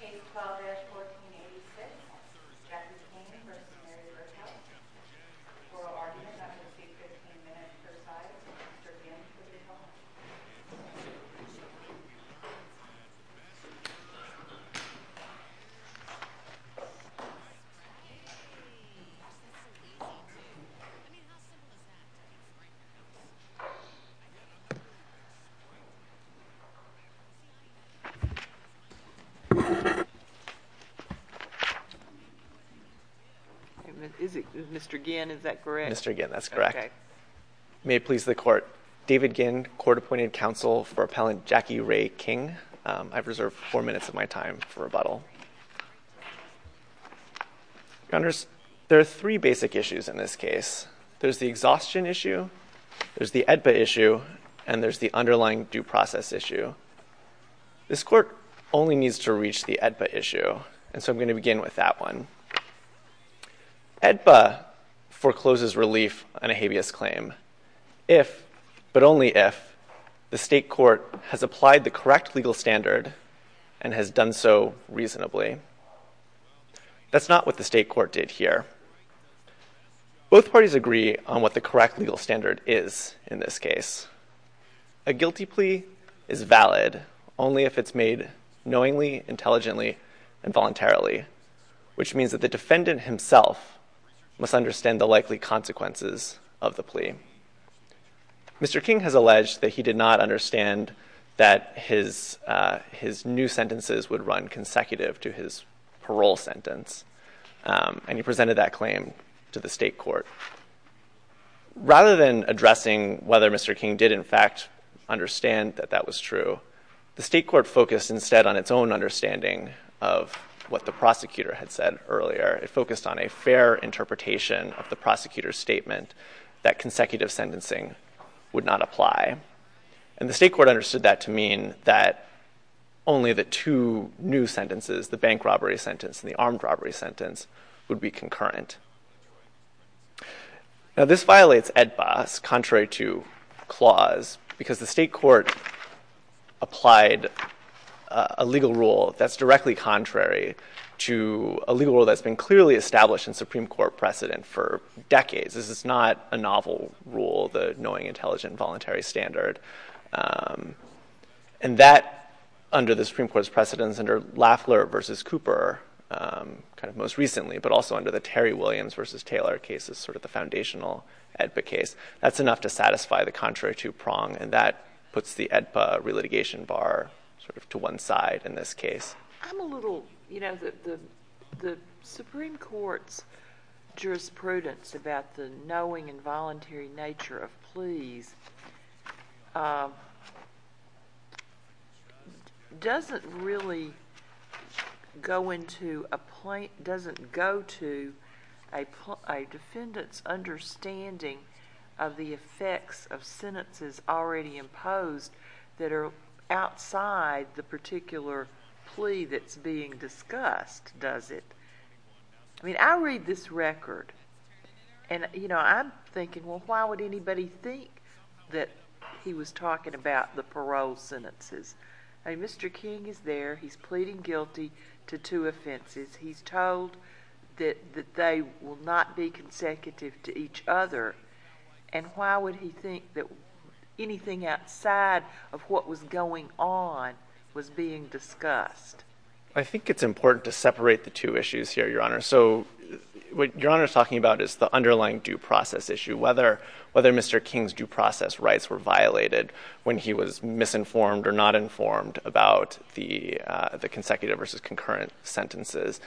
Case 12-1486, Jackie King v. Mary Berghuis. Oral argument under seat 15 minutes per side. Mr. Gibbs with your helmet. Mr. Ginn, is that correct? Mr. Ginn, that's correct. May it please the Court. David Ginn, Court-Appointed Counsel for Appellant Jackie Rae King. I've reserved four minutes of my time for rebuttal. There are three basic issues in this case. There's the exhaustion issue, there's the EDPA issue, and there's the underlying due process issue. This Court only needs to reach the EDPA issue. And so I'm going to begin with that one. EDPA forecloses relief on a habeas claim if, but only if, the State Court has applied the correct legal standard and has done so reasonably. That's not what the State Court did here. Both parties agree on what the correct legal standard is in this case. A guilty plea is valid only if it's made knowingly, intelligently, and voluntarily, which means that the defendant himself must understand the likely consequences of the plea. Mr. King has alleged that he did not understand that his new sentences would run consecutive to his parole sentence. And he presented that claim to the State Court. Rather than addressing whether Mr. King did in fact understand that that was true, the State Court focused instead on its own understanding of what the prosecutor had said earlier. It focused on a fair interpretation of the prosecutor's statement that consecutive sentencing would not apply. And the State Court understood that to mean that only the two new sentences, the bank robbery sentence and the armed robbery sentence, would be concurrent. Now this violates EDPA's contrary to clause because the State Court applied a legal rule that's directly contrary to a legal rule that's been clearly established in Supreme Court precedent for decades. This is not a novel rule, the knowing, intelligent, voluntary standard. And that, under the Supreme Court's precedence, under Lafler v. Cooper, kind of most recently, but also under the Terry Williams v. Taylor cases, sort of the foundational EDPA case, that's enough to satisfy the contrary to prong, and that puts the EDPA re-litigation bar sort of to one side in this case. I'm a little, you know, the Supreme Court's jurisprudence about the knowing and voluntary nature of pleas doesn't really go into a point, doesn't go to a defendant's understanding of the effects of sentences already imposed that are outside the particular plea that's being discussed, does it? I mean, I read this record, and, you know, I'm thinking, well, why would anybody think that he was talking about the parole sentences? I mean, Mr. King is there. He's pleading guilty to two offenses. He's told that they will not be consecutive to each other. And why would he think that anything outside of what was going on was being discussed? I think it's important to separate the two issues here, Your Honor. So what Your Honor is talking about is the underlying due process issue, whether Mr. King's due process rights were violated when he was misinformed or not informed about the consecutive versus concurrent sentences.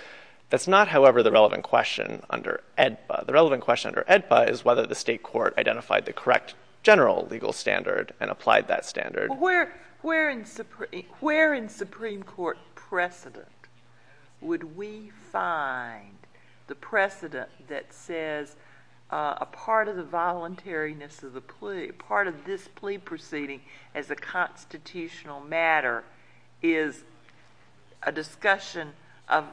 That's not, however, the relevant question under EDPA. The relevant question under EDPA is whether the state court identified the correct general legal standard and applied that standard. Where in Supreme Court precedent would we find the precedent that says a part of the voluntariness of the plea, a part of this plea proceeding as a constitutional matter is a discussion of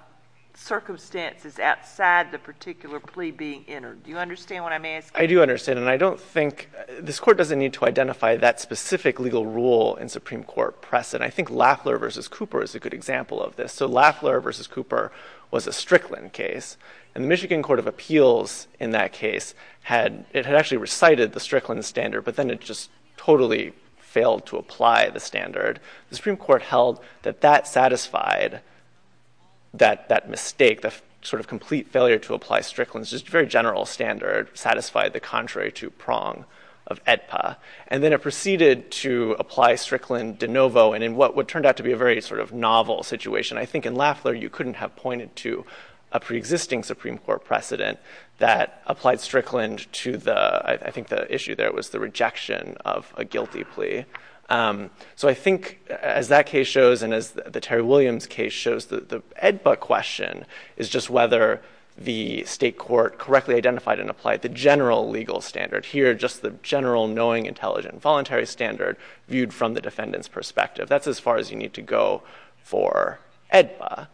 circumstances outside the particular plea being entered. Do you understand what I'm asking? I do understand, and I don't think this court doesn't need to identify that specific legal rule in Supreme Court precedent. I think Lafler v. Cooper is a good example of this. So Lafler v. Cooper was a Strickland case, and the Michigan Court of Appeals in that case had actually recited the Strickland standard, but then it just totally failed to apply the standard. The Supreme Court held that that satisfied that mistake, the sort of complete failure to apply Strickland's very general standard, satisfied the contrary to prong of EDPA. And then it proceeded to apply Strickland de novo, and in what turned out to be a very sort of novel situation, I think in Lafler you couldn't have pointed to a preexisting Supreme Court precedent that applied Strickland to the, I think the issue there was the rejection of a guilty plea. So I think as that case shows and as the Terry Williams case shows, the EDPA question is just whether the state court correctly identified and applied the general legal standard. Here, just the general knowing, intelligent, voluntary standard viewed from the defendant's perspective. That's as far as you need to go for EDPA.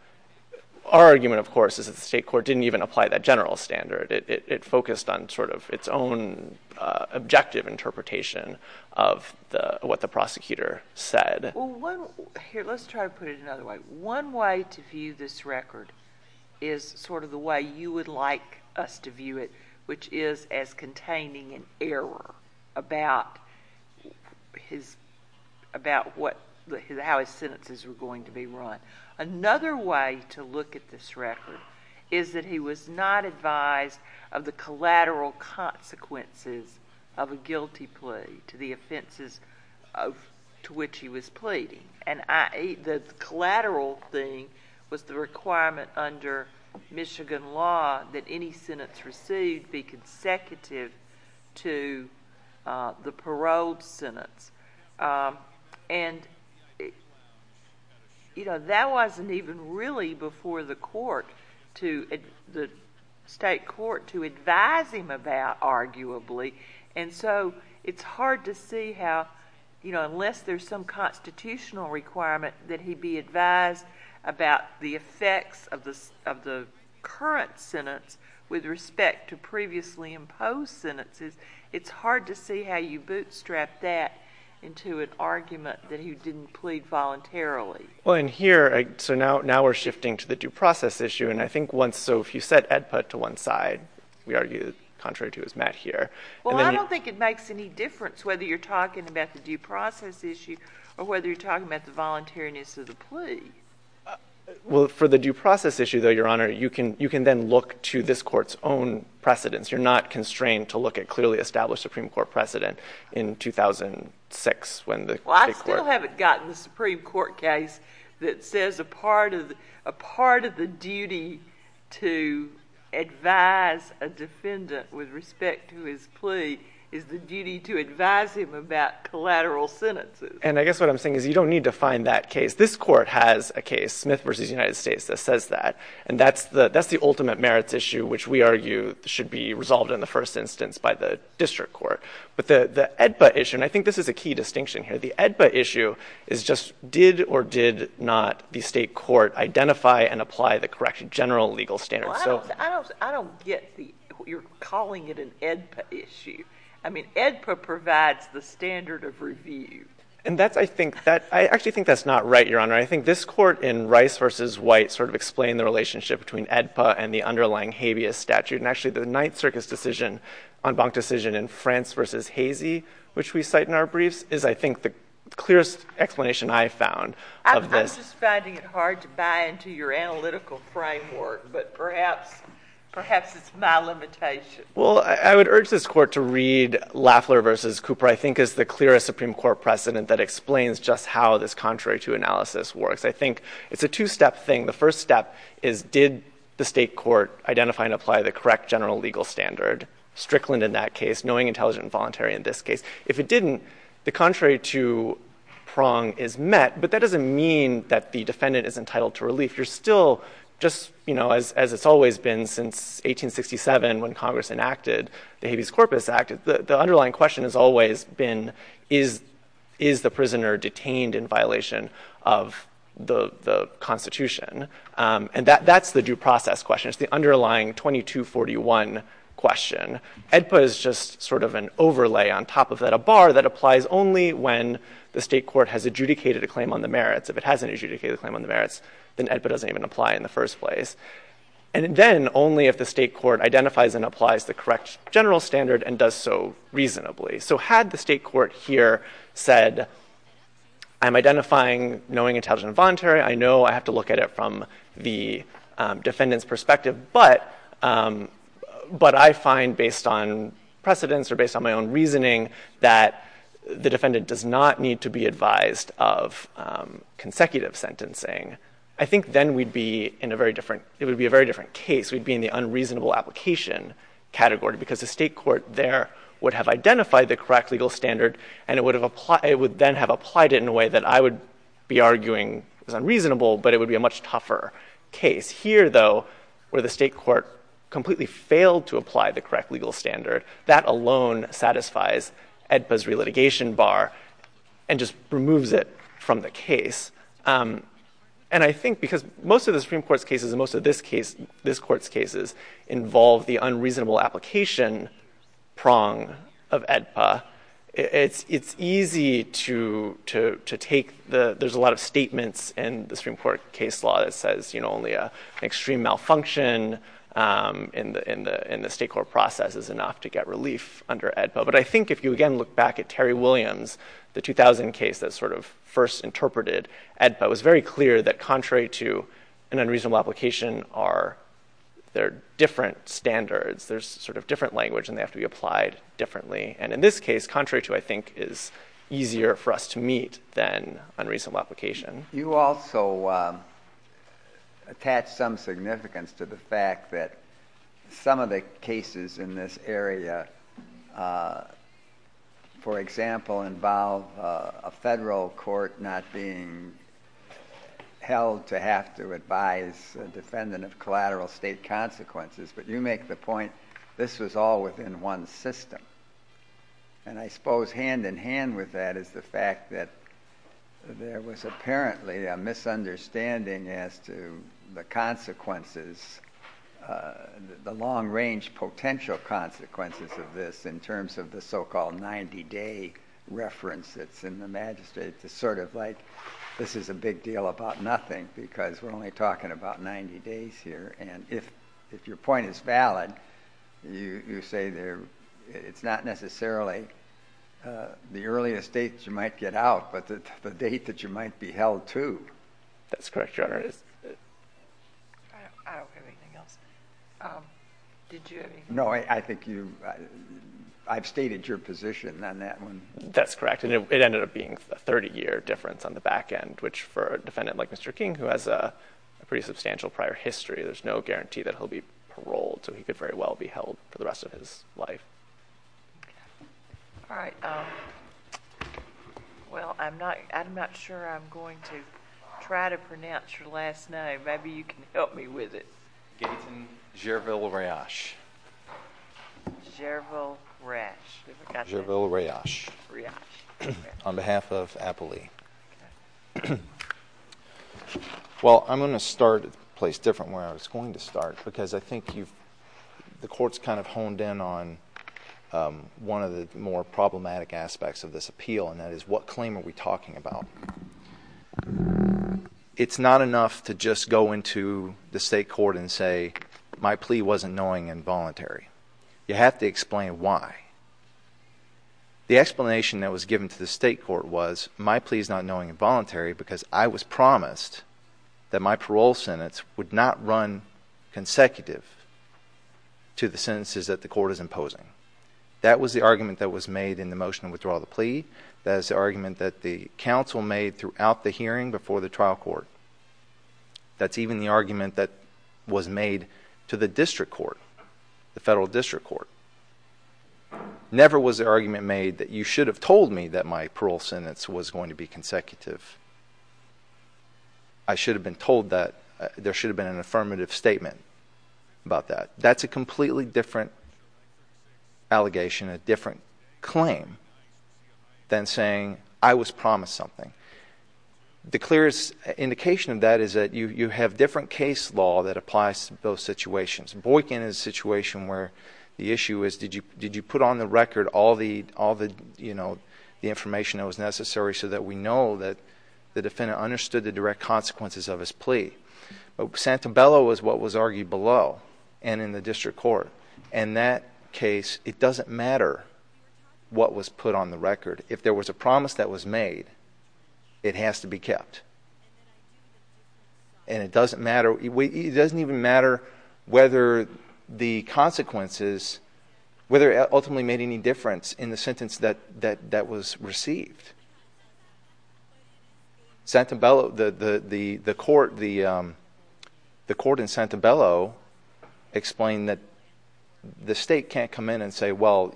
Our argument, of course, is that the state court didn't even apply that general standard. It focused on sort of its own objective interpretation of what the prosecutor said. Well, let's try to put it another way. One way to view this record is sort of the way you would like us to view it, which is as containing an error about how his sentences were going to be run. Another way to look at this record is that he was not advised of the collateral consequences of a guilty plea to the offenses to which he was pleading. And the collateral thing was the requirement under Michigan law that any sentence received be consecutive to the paroled sentence. And that wasn't even really before the state court to advise him about, arguably. And so it's hard to see how, unless there's some constitutional requirement that he be advised about the effects of the current sentence with respect to previously imposed sentences, it's hard to see how you bootstrap that into an argument that he didn't plead voluntarily. Well, and here, so now we're shifting to the due process issue. And I think once, so if you set EDPA to one side, we argue the contrary to is met here. Well, I don't think it makes any difference whether you're talking about the due process issue or whether you're talking about the voluntariness of the plea. Well, for the due process issue, though, Your Honor, you can then look to this court's own precedence. You're not constrained to look at clearly established Supreme Court precedent in 2006 when the state court. Well, I still haven't gotten the Supreme Court case that says a part of the duty to advise a defendant with respect to his plea is the duty to advise him about collateral sentences. And I guess what I'm saying is you don't need to find that case. This court has a case, Smith v. United States, that says that. And that's the ultimate merits issue, which we argue should be resolved in the first instance by the district court. But the EDPA issue, and I think this is a key distinction here, the EDPA issue is just did or did not the state court identify and apply the correct general legal standards. Well, I don't get the, you're calling it an EDPA issue. I mean, EDPA provides the standard of review. And that's, I think, I actually think that's not right, Your Honor. I think this court in Rice v. White sort of explained the relationship between EDPA and the underlying habeas statute. And actually, the Ninth Circus decision, en banc decision in France v. Hazy, which we cite in our briefs, is, I think, the clearest explanation I found of this. I'm just finding it hard to buy into your analytical framework. But perhaps it's my limitation. Well, I would urge this court to read Lafler v. Cooper, I think, as the clearest Supreme Court precedent that explains just how this contrary to analysis works. I think it's a two-step thing. The first step is did the state court identify and apply the correct general legal standard, Strickland in that case, knowing intelligent and voluntary in this case. If it didn't, the contrary to prong is met. But that doesn't mean that the defendant is entitled to relief. If you're still just, you know, as it's always been since 1867 when Congress enacted the Habeas Corpus Act, the underlying question has always been is the prisoner detained in violation of the Constitution? And that's the due process question. It's the underlying 2241 question. EDPA is just sort of an overlay on top of that, a bar that applies only when the state court has adjudicated a claim on the merits. If it hasn't adjudicated a claim on the merits, then EDPA doesn't even apply in the first place. And then only if the state court identifies and applies the correct general standard and does so reasonably. So had the state court here said, I'm identifying knowing intelligent and voluntary. I know I have to look at it from the defendant's perspective. But I find based on precedence or based on my own reasoning that the defendant does not need to be advised of consecutive sentencing. I think then we'd be in a very different, it would be a very different case. We'd be in the unreasonable application category because the state court there would have identified the correct legal standard. And it would then have applied it in a way that I would be arguing is unreasonable, but it would be a much tougher case. Here, though, where the state court completely failed to apply the correct legal standard, that alone satisfies EDPA's relitigation bar and just removes it from the case. And I think because most of the Supreme Court's cases and most of this court's cases involve the unreasonable application prong of EDPA. It's easy to take, there's a lot of statements in the Supreme Court case law that says only an extreme malfunction in the state court process is enough to get relief under EDPA. But I think if you again look back at Terry Williams, the 2000 case that sort of first interpreted EDPA, it was very clear that contrary to an unreasonable application, there are different standards. There's sort of different language and they have to be applied differently. And in this case, contrary to, I think, is easier for us to meet than unreasonable application. You also attach some significance to the fact that some of the cases in this area, for example, involve a federal court not being held to have to advise a defendant of collateral state consequences. But you make the point this was all within one system. And I suppose hand in hand with that is the fact that there was apparently a misunderstanding as to the consequences, the long range potential consequences of this in terms of the so-called 90 day reference that's in the magistrate. It's sort of like this is a big deal about nothing because we're only talking about 90 days here. And if your point is valid, you say it's not necessarily the earliest date you might get out, but the date that you might be held to. That's correct, Your Honor. I don't have anything else. Did you have anything else? No, I think you, I've stated your position on that one. That's correct. And it ended up being a 30 year difference on the back end, which for a defendant like Mr. King, who has a pretty substantial prior history, there's no guarantee that he'll be paroled. So he could very well be held for the rest of his life. All right. Well, I'm not sure I'm going to try to pronounce your last name. Maybe you can help me with it. Gerville Rayash. Gerville Rayash. Gerville Rayash. Rayash. On behalf of Appley. Well, I'm going to start a place different where I was going to start because I think you've, the court's kind of honed in on one of the more problematic aspects of this appeal, and that is what claim are we talking about? It's not enough to just go into the state court and say my plea wasn't knowing and voluntary. You have to explain why. The explanation that was given to the state court was my plea is not knowing and voluntary because I was promised that my parole sentence would not run consecutive to the sentences that the court is imposing. That was the argument that was made in the motion to withdraw the plea. That is the argument that the counsel made throughout the hearing before the trial court. That's even the argument that was made to the district court, the federal district court. Never was the argument made that you should have told me that my parole sentence was going to be consecutive. I should have been told that. There should have been an affirmative statement about that. That's a completely different allegation, a different claim than saying I was promised something. The clearest indication of that is that you have different case law that applies to both situations. Boykin is a situation where the issue is did you put on the record all the information that was necessary so that we know that the defendant understood the direct consequences of his plea. Santabella was what was argued below and in the district court. In that case, it doesn't matter what was put on the record. If there was a promise that was made, it has to be kept. It doesn't even matter whether the consequences, whether it ultimately made any difference in the sentence that was received. The court in Santabella explained that the state can't come in and say, well,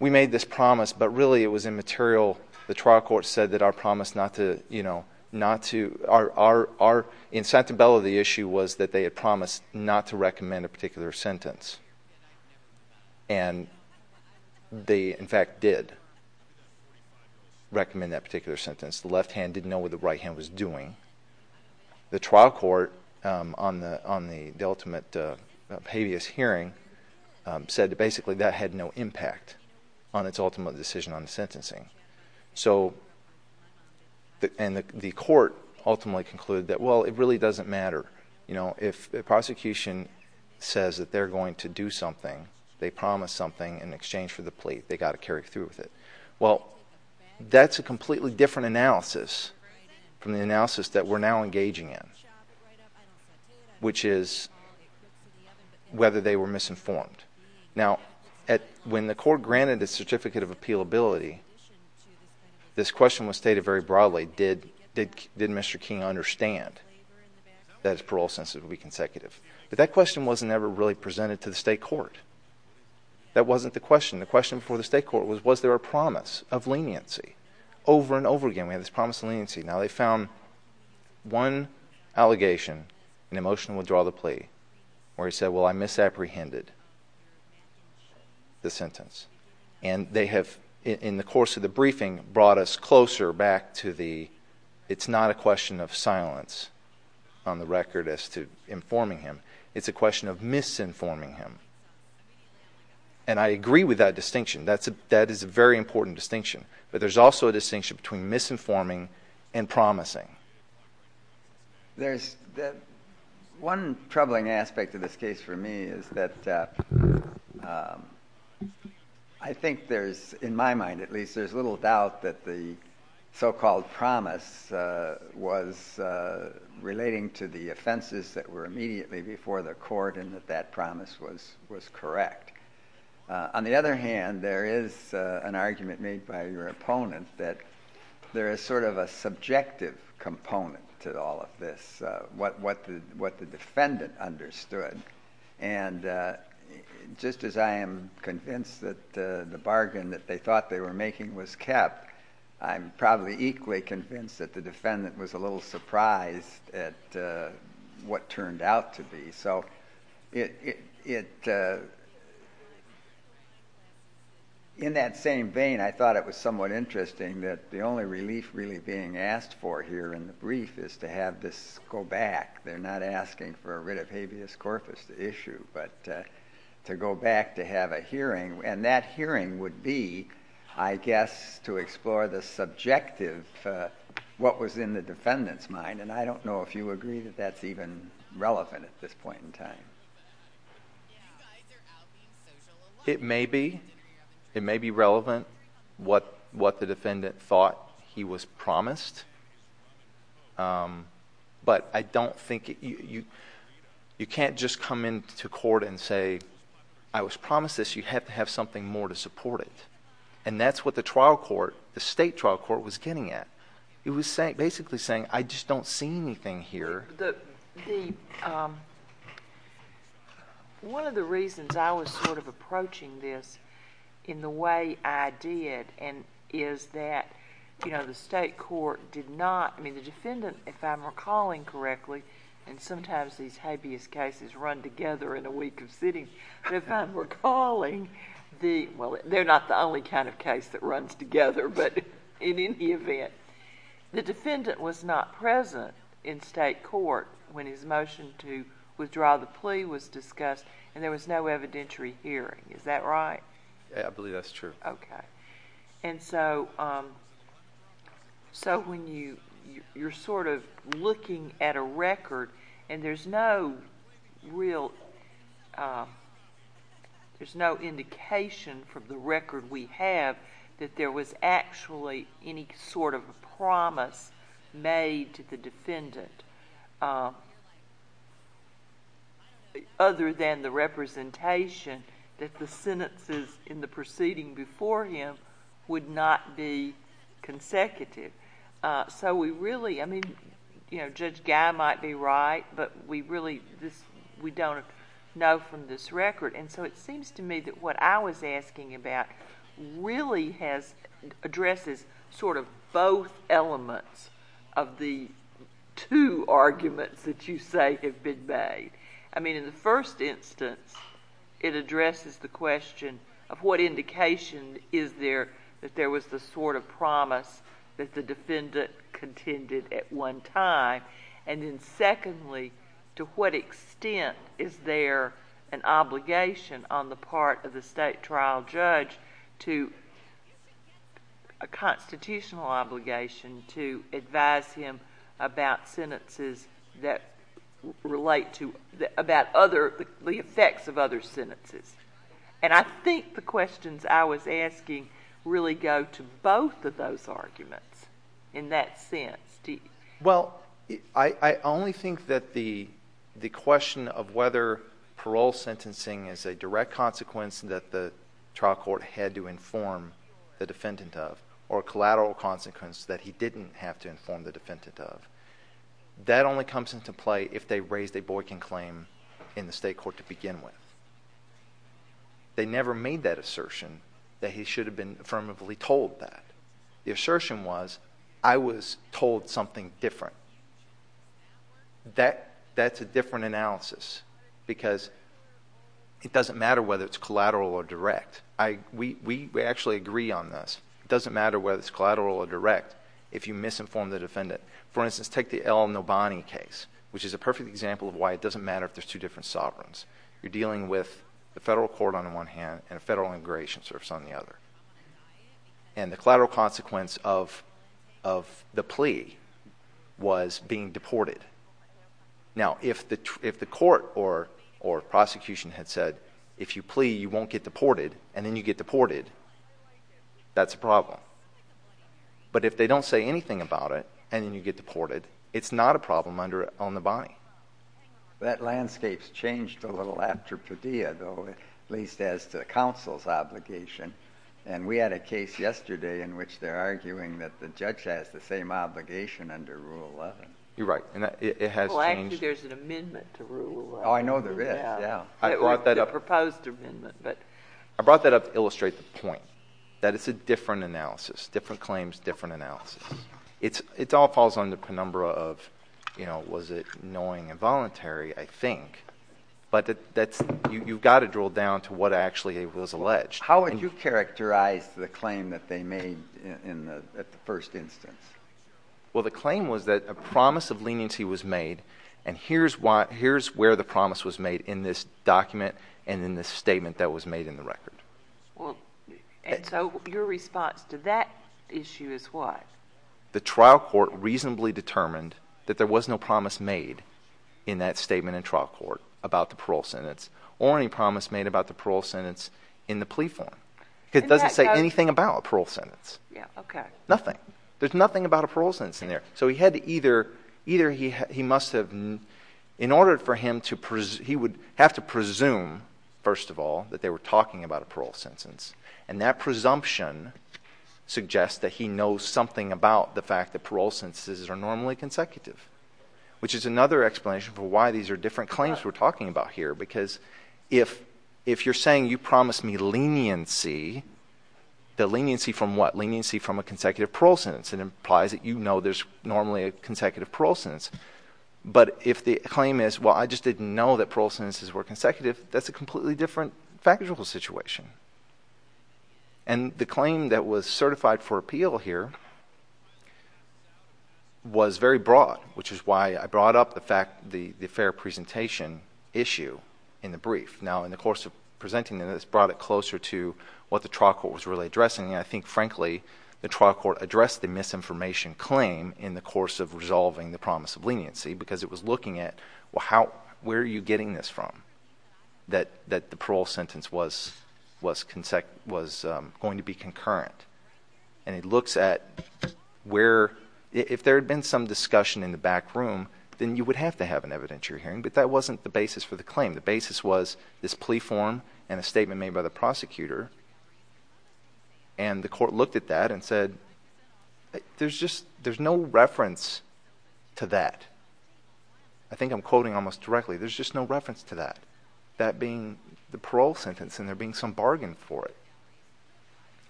we made this promise, but really it was immaterial. The trial court said that our promise not to – in Santabella, the issue was that they had promised not to recommend a particular sentence. And they, in fact, did recommend that particular sentence. The left hand didn't know what the right hand was doing. The trial court on the ultimate habeas hearing said that basically that had no impact on its ultimate decision on the sentencing. So – and the court ultimately concluded that, well, it really doesn't matter. If the prosecution says that they're going to do something, they promised something in exchange for the plea, they've got to carry through with it. Well, that's a completely different analysis from the analysis that we're now engaging in, which is whether they were misinformed. Now, when the court granted a certificate of appealability, this question was stated very broadly. Did Mr. King understand that his parole sentence would be consecutive? But that question wasn't ever really presented to the state court. That wasn't the question. The question before the state court was, was there a promise of leniency? Now, they found one allegation, an emotional withdrawal of the plea, where he said, well, I misapprehended the sentence. And they have, in the course of the briefing, brought us closer back to the it's not a question of silence on the record as to informing him. It's a question of misinforming him. And I agree with that distinction. That is a very important distinction. But there's also a distinction between misinforming and promising. There's one troubling aspect of this case for me is that I think there's, in my mind at least, there's little doubt that the so-called promise was relating to the offenses that were immediately before the court and that that promise was correct. On the other hand, there is an argument made by your opponent that there is sort of a subjective component to all of this, what the defendant understood. And just as I am convinced that the bargain that they thought they were making was kept, I'm probably equally convinced that the defendant was a little surprised at what turned out to be. So in that same vein, I thought it was somewhat interesting that the only relief really being asked for here in the brief is to have this go back. They're not asking for rid of habeas corpus, the issue, but to go back to have a hearing. And that hearing would be, I guess, to explore the subjective, what was in the defendant's mind. And I don't know if you agree that that's even relevant at this point in time. It may be. It may be relevant what the defendant thought he was promised. But I don't think you can't just come into court and say, I was promised this. You have to have something more to support it. And that's what the trial court, the state trial court, was getting at. It was basically saying, I just don't see anything here. One of the reasons I was sort of approaching this in the way I did is that the state court did not, I mean, the defendant, if I'm recalling correctly, and sometimes these habeas cases run together in a week of sitting, but if I'm recalling, well, they're not the only kind of case that runs together, but in any event, the defendant was not present in state court when his motion to withdraw the plea was discussed, and there was no evidentiary hearing. Is that right? Yeah, I believe that's true. Okay. And so when you're sort of looking at a record, and there's no real, there's no indication from the record we have that there was actually any sort of a promise made to the defendant other than the representation that the sentences in the proceeding before him would not be consecutive. So we really, I mean, Judge Guy might be right, but we really, we don't know from this record. And so it seems to me that what I was asking about really has, addresses sort of both elements of the two arguments that you say have been made. I mean, in the first instance, it addresses the question of what indication is there that there was the sort of promise that the defendant contended at one time, and then secondly, to what extent is there an obligation on the part of the state trial judge to, a constitutional obligation to advise him about sentences that relate to, about other, the effects of other sentences. And I think the questions I was asking really go to both of those arguments in that sense. Well, I only think that the question of whether parole sentencing is a direct consequence that the trial court had to inform the defendant of, or a collateral consequence that he didn't have to inform the defendant of, that only comes into play if they raised a Boykin claim in the state court to begin with. They never made that assertion that he should have been affirmatively told that. The assertion was, I was told something different. That's a different analysis, because it doesn't matter whether it's collateral or direct. We actually agree on this. It doesn't matter whether it's collateral or direct if you misinform the defendant. For instance, take the L. Nobani case, which is a perfect example of why it doesn't matter if there's two different sovereigns. You're dealing with the federal court on the one hand and a federal integration service on the other. And the collateral consequence of the plea was being deported. Now, if the court or prosecution had said, if you plea, you won't get deported, and then you get deported, that's a problem. But if they don't say anything about it, and then you get deported, it's not a problem under L. Nobani. That landscape's changed a little after Padilla, though, at least as to counsel's obligation. And we had a case yesterday in which they're arguing that the judge has the same obligation under Rule 11. You're right, and it has changed. Well, actually, there's an amendment to Rule 11. Oh, I know there is, yeah. The proposed amendment. I brought that up to illustrate the point, that it's a different analysis, different claims, different analysis. It all falls under the penumbra of, you know, was it knowing and voluntary, I think. But you've got to drill down to what actually was alleged. How would you characterize the claim that they made at the first instance? Well, the claim was that a promise of leniency was made, and here's where the promise was made in this document and in this statement that was made in the record. Well, and so your response to that issue is what? The trial court reasonably determined that there was no promise made in that statement in trial court about the parole sentence or any promise made about the parole sentence in the plea form. It doesn't say anything about a parole sentence. Yeah, okay. Nothing. There's nothing about a parole sentence in there. So he had to either – either he must have – in order for him to – he would have to presume, first of all, that they were talking about a parole sentence, and that presumption suggests that he knows something about the fact that parole sentences are normally consecutive, which is another explanation for why these are different claims we're talking about here, because if you're saying you promised me leniency, the leniency from what? Normally a consecutive parole sentence. But if the claim is, well, I just didn't know that parole sentences were consecutive, that's a completely different factual situation. And the claim that was certified for appeal here was very broad, which is why I brought up the fact – the fair presentation issue in the brief. Now, in the course of presenting this brought it closer to what the trial court was really addressing, and I think, frankly, the trial court addressed the misinformation claim in the course of resolving the promise of leniency because it was looking at, well, how – where are you getting this from that the parole sentence was going to be concurrent? And it looks at where – if there had been some discussion in the back room, then you would have to have an evidentiary hearing, but that wasn't the basis for the claim. The basis was this plea form and a statement made by the prosecutor, and the court looked at that and said there's just – there's no reference to that. I think I'm quoting almost directly. There's just no reference to that, that being the parole sentence and there being some bargain for it.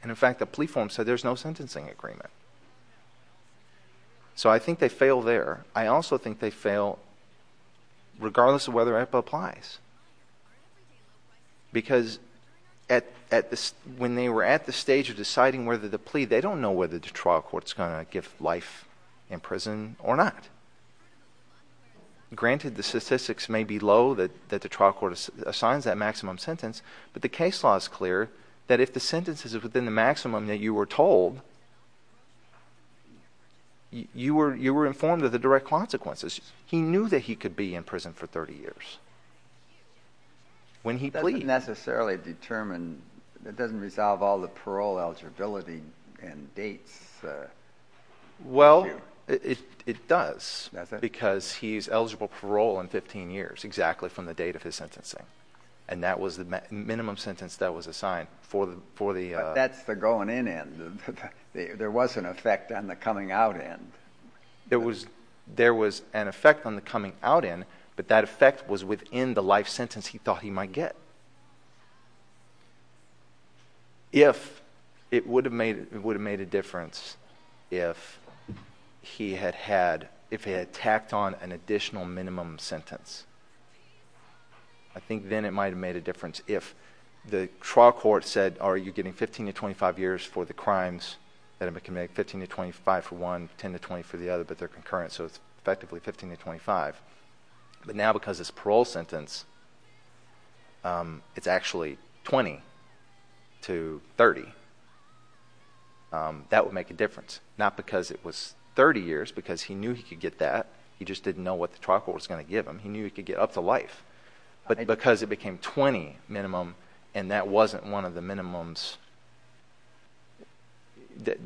And, in fact, the plea form said there's no sentencing agreement. So I think they fail there. I also think they fail regardless of whether AIPA applies because when they were at the stage of deciding whether the plea – they don't know whether the trial court is going to give life in prison or not. Granted, the statistics may be low that the trial court assigns that maximum sentence, but the case law is clear that if the sentence is within the maximum that you were told… You were informed of the direct consequences. He knew that he could be in prison for 30 years when he pleaded. It doesn't necessarily determine – it doesn't resolve all the parole eligibility and dates issue. Well, it does because he's eligible for parole in 15 years exactly from the date of his sentencing, and that was the minimum sentence that was assigned for the – There was an effect on the coming out end. There was an effect on the coming out end, but that effect was within the life sentence he thought he might get. If – it would have made a difference if he had had – if he had tacked on an additional minimum sentence. I think then it might have made a difference if the trial court said, are you getting 15 to 25 years for the crimes that have been committed? 15 to 25 for one, 10 to 20 for the other, but they're concurrent, so it's effectively 15 to 25. But now because it's a parole sentence, it's actually 20 to 30. That would make a difference, not because it was 30 years because he knew he could get that. He just didn't know what the trial court was going to give him. He knew he could get up to life, but because it became 20 minimum and that wasn't one of the minimums,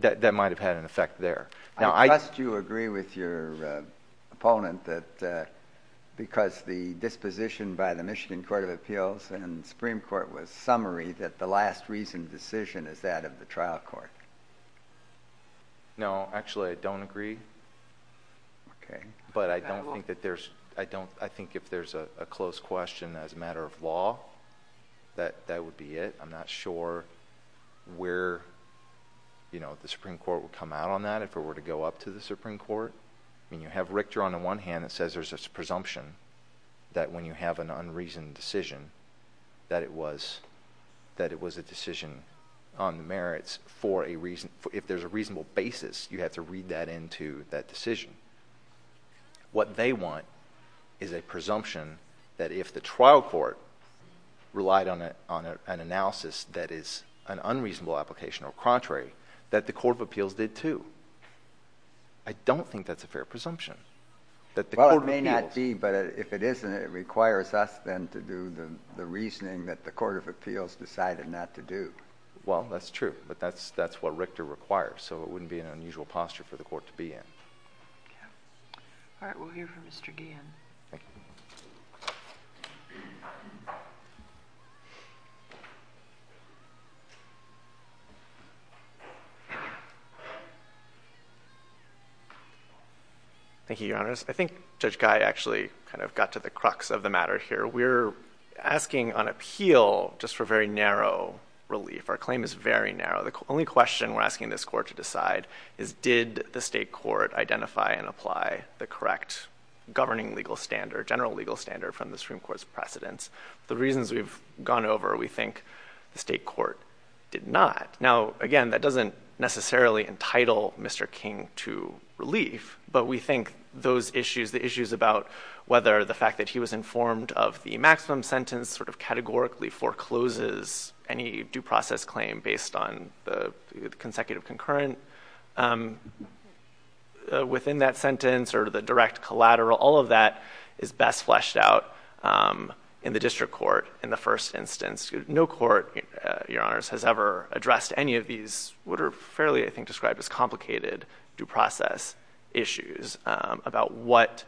that might have had an effect there. Now, I – I trust you agree with your opponent that because the disposition by the Michigan Court of Appeals and the Supreme Court was summary that the last reasoned decision is that of the trial court. No, actually, I don't agree. Okay. But I don't think that there's – I don't – I think if there's a close question as a matter of law, that would be it. I'm not sure where the Supreme Court would come out on that if it were to go up to the Supreme Court. I mean, you have Richter on the one hand that says there's a presumption that when you have an unreasoned decision that it was – that it was a decision on the merits for a reason – you have to read that into that decision. What they want is a presumption that if the trial court relied on an analysis that is an unreasonable application or contrary, that the Court of Appeals did too. I don't think that's a fair presumption. Well, it may not be, but if it isn't, it requires us then to do the reasoning that the Court of Appeals decided not to do. Well, that's true. But that's what Richter requires, so it wouldn't be an unusual posture for the court to be in. Yeah. All right. We'll hear from Mr. Guillen. Thank you. Thank you, Your Honors. I think Judge Guy actually kind of got to the crux of the matter here. We're asking on appeal just for very narrow relief. Our claim is very narrow. The only question we're asking this court to decide is did the state court identify and apply the correct governing legal standard, general legal standard from the Supreme Court's precedents. The reasons we've gone over, we think the state court did not. Now, again, that doesn't necessarily entitle Mr. King to relief, but we think those issues, the issues about whether the fact that he was informed of the maximum sentence sort of categorically forecloses any due process claim based on the consecutive concurrent within that sentence or the direct collateral, all of that is best fleshed out in the district court in the first instance. No court, Your Honors, has ever addressed any of these what are fairly, I think, described as complicated due process issues about what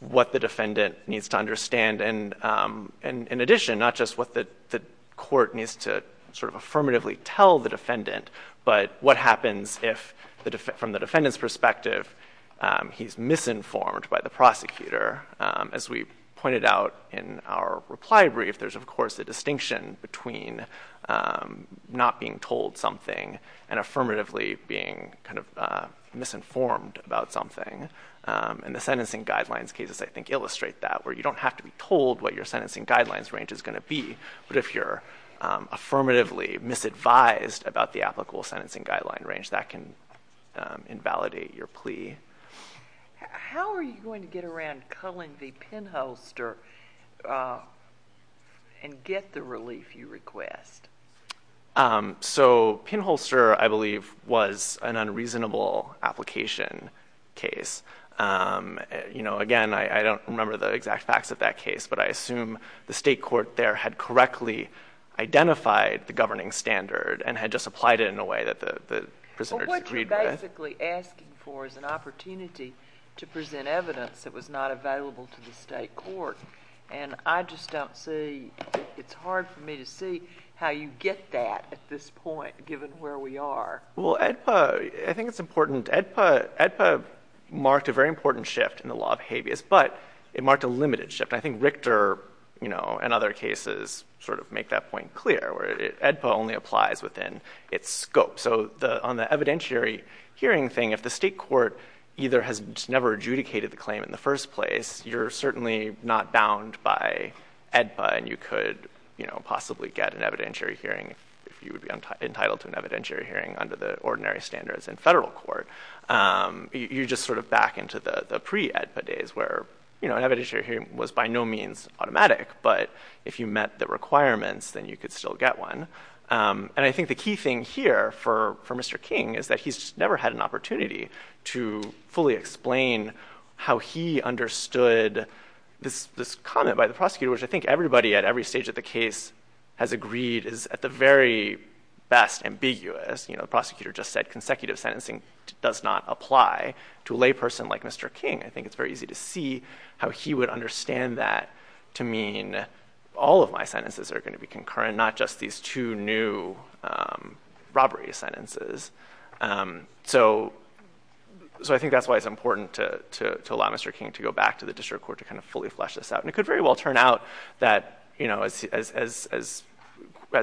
the defendant needs to understand. And in addition, not just what the court needs to sort of affirmatively tell the defendant, but what happens if, from the defendant's perspective, he's misinformed by the prosecutor. As we pointed out in our reply brief, there's, of course, a distinction between not being told something and affirmatively being kind of misinformed about something. And the sentencing guidelines cases, I think, illustrate that, where you don't have to be told what your sentencing guidelines range is going to be. But if you're affirmatively misadvised about the applicable sentencing guideline range, that can invalidate your plea. How are you going to get around culling the pinholster and get the relief you request? So pinholster, I believe, was an unreasonable application case. Again, I don't remember the exact facts of that case, but I assume the state court there had correctly identified the governing standard and had just applied it in a way that the prisoners agreed with. What you're basically asking for is an opportunity to present evidence that was not available to the state court. And I just don't see—it's hard for me to see how you get that at this point, given where we are. Well, AEDPA—I think it's important. AEDPA marked a very important shift in the law of habeas, but it marked a limited shift. I think Richter, you know, and other cases sort of make that point clear, where AEDPA only applies within its scope. So on the evidentiary hearing thing, if the state court either has never adjudicated the claim in the first place, you're certainly not bound by AEDPA, and you could possibly get an evidentiary hearing if you would be entitled to an evidentiary hearing under the ordinary standards in federal court. You're just sort of back into the pre-AEDPA days, where an evidentiary hearing was by no means automatic. But if you met the requirements, then you could still get one. And I think the key thing here for Mr. King is that he's never had an opportunity to fully explain how he understood this comment by the prosecutor, which I think everybody at every stage of the case has agreed is at the very best ambiguous. You know, the prosecutor just said consecutive sentencing does not apply to a layperson like Mr. King. I think it's very easy to see how he would understand that to mean all of my sentences are going to be concurrent, not just these two new robbery sentences. So I think that's why it's important to allow Mr. King to go back to the district court to kind of fully flesh this out. And it could very well turn out that, you know, as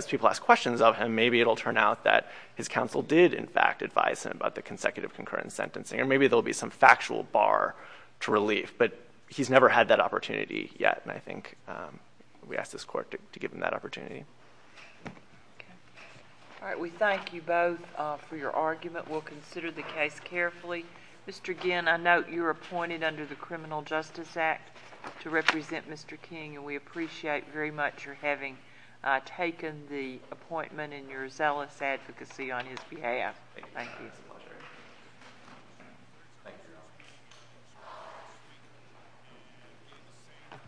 people ask questions of him, maybe it'll turn out that his counsel did, in fact, advise him about the consecutive concurrent sentencing, or maybe there'll be some factual bar to relief. But he's never had that opportunity yet, and I think we ask this court to give him that opportunity. Okay. All right, we thank you both for your argument. We'll consider the case carefully. Mr. Ginn, I note you were appointed under the Criminal Justice Act to represent Mr. King, and we appreciate very much your having taken the appointment and your zealous advocacy on his behalf. Thank you. It's a pleasure. Thank you.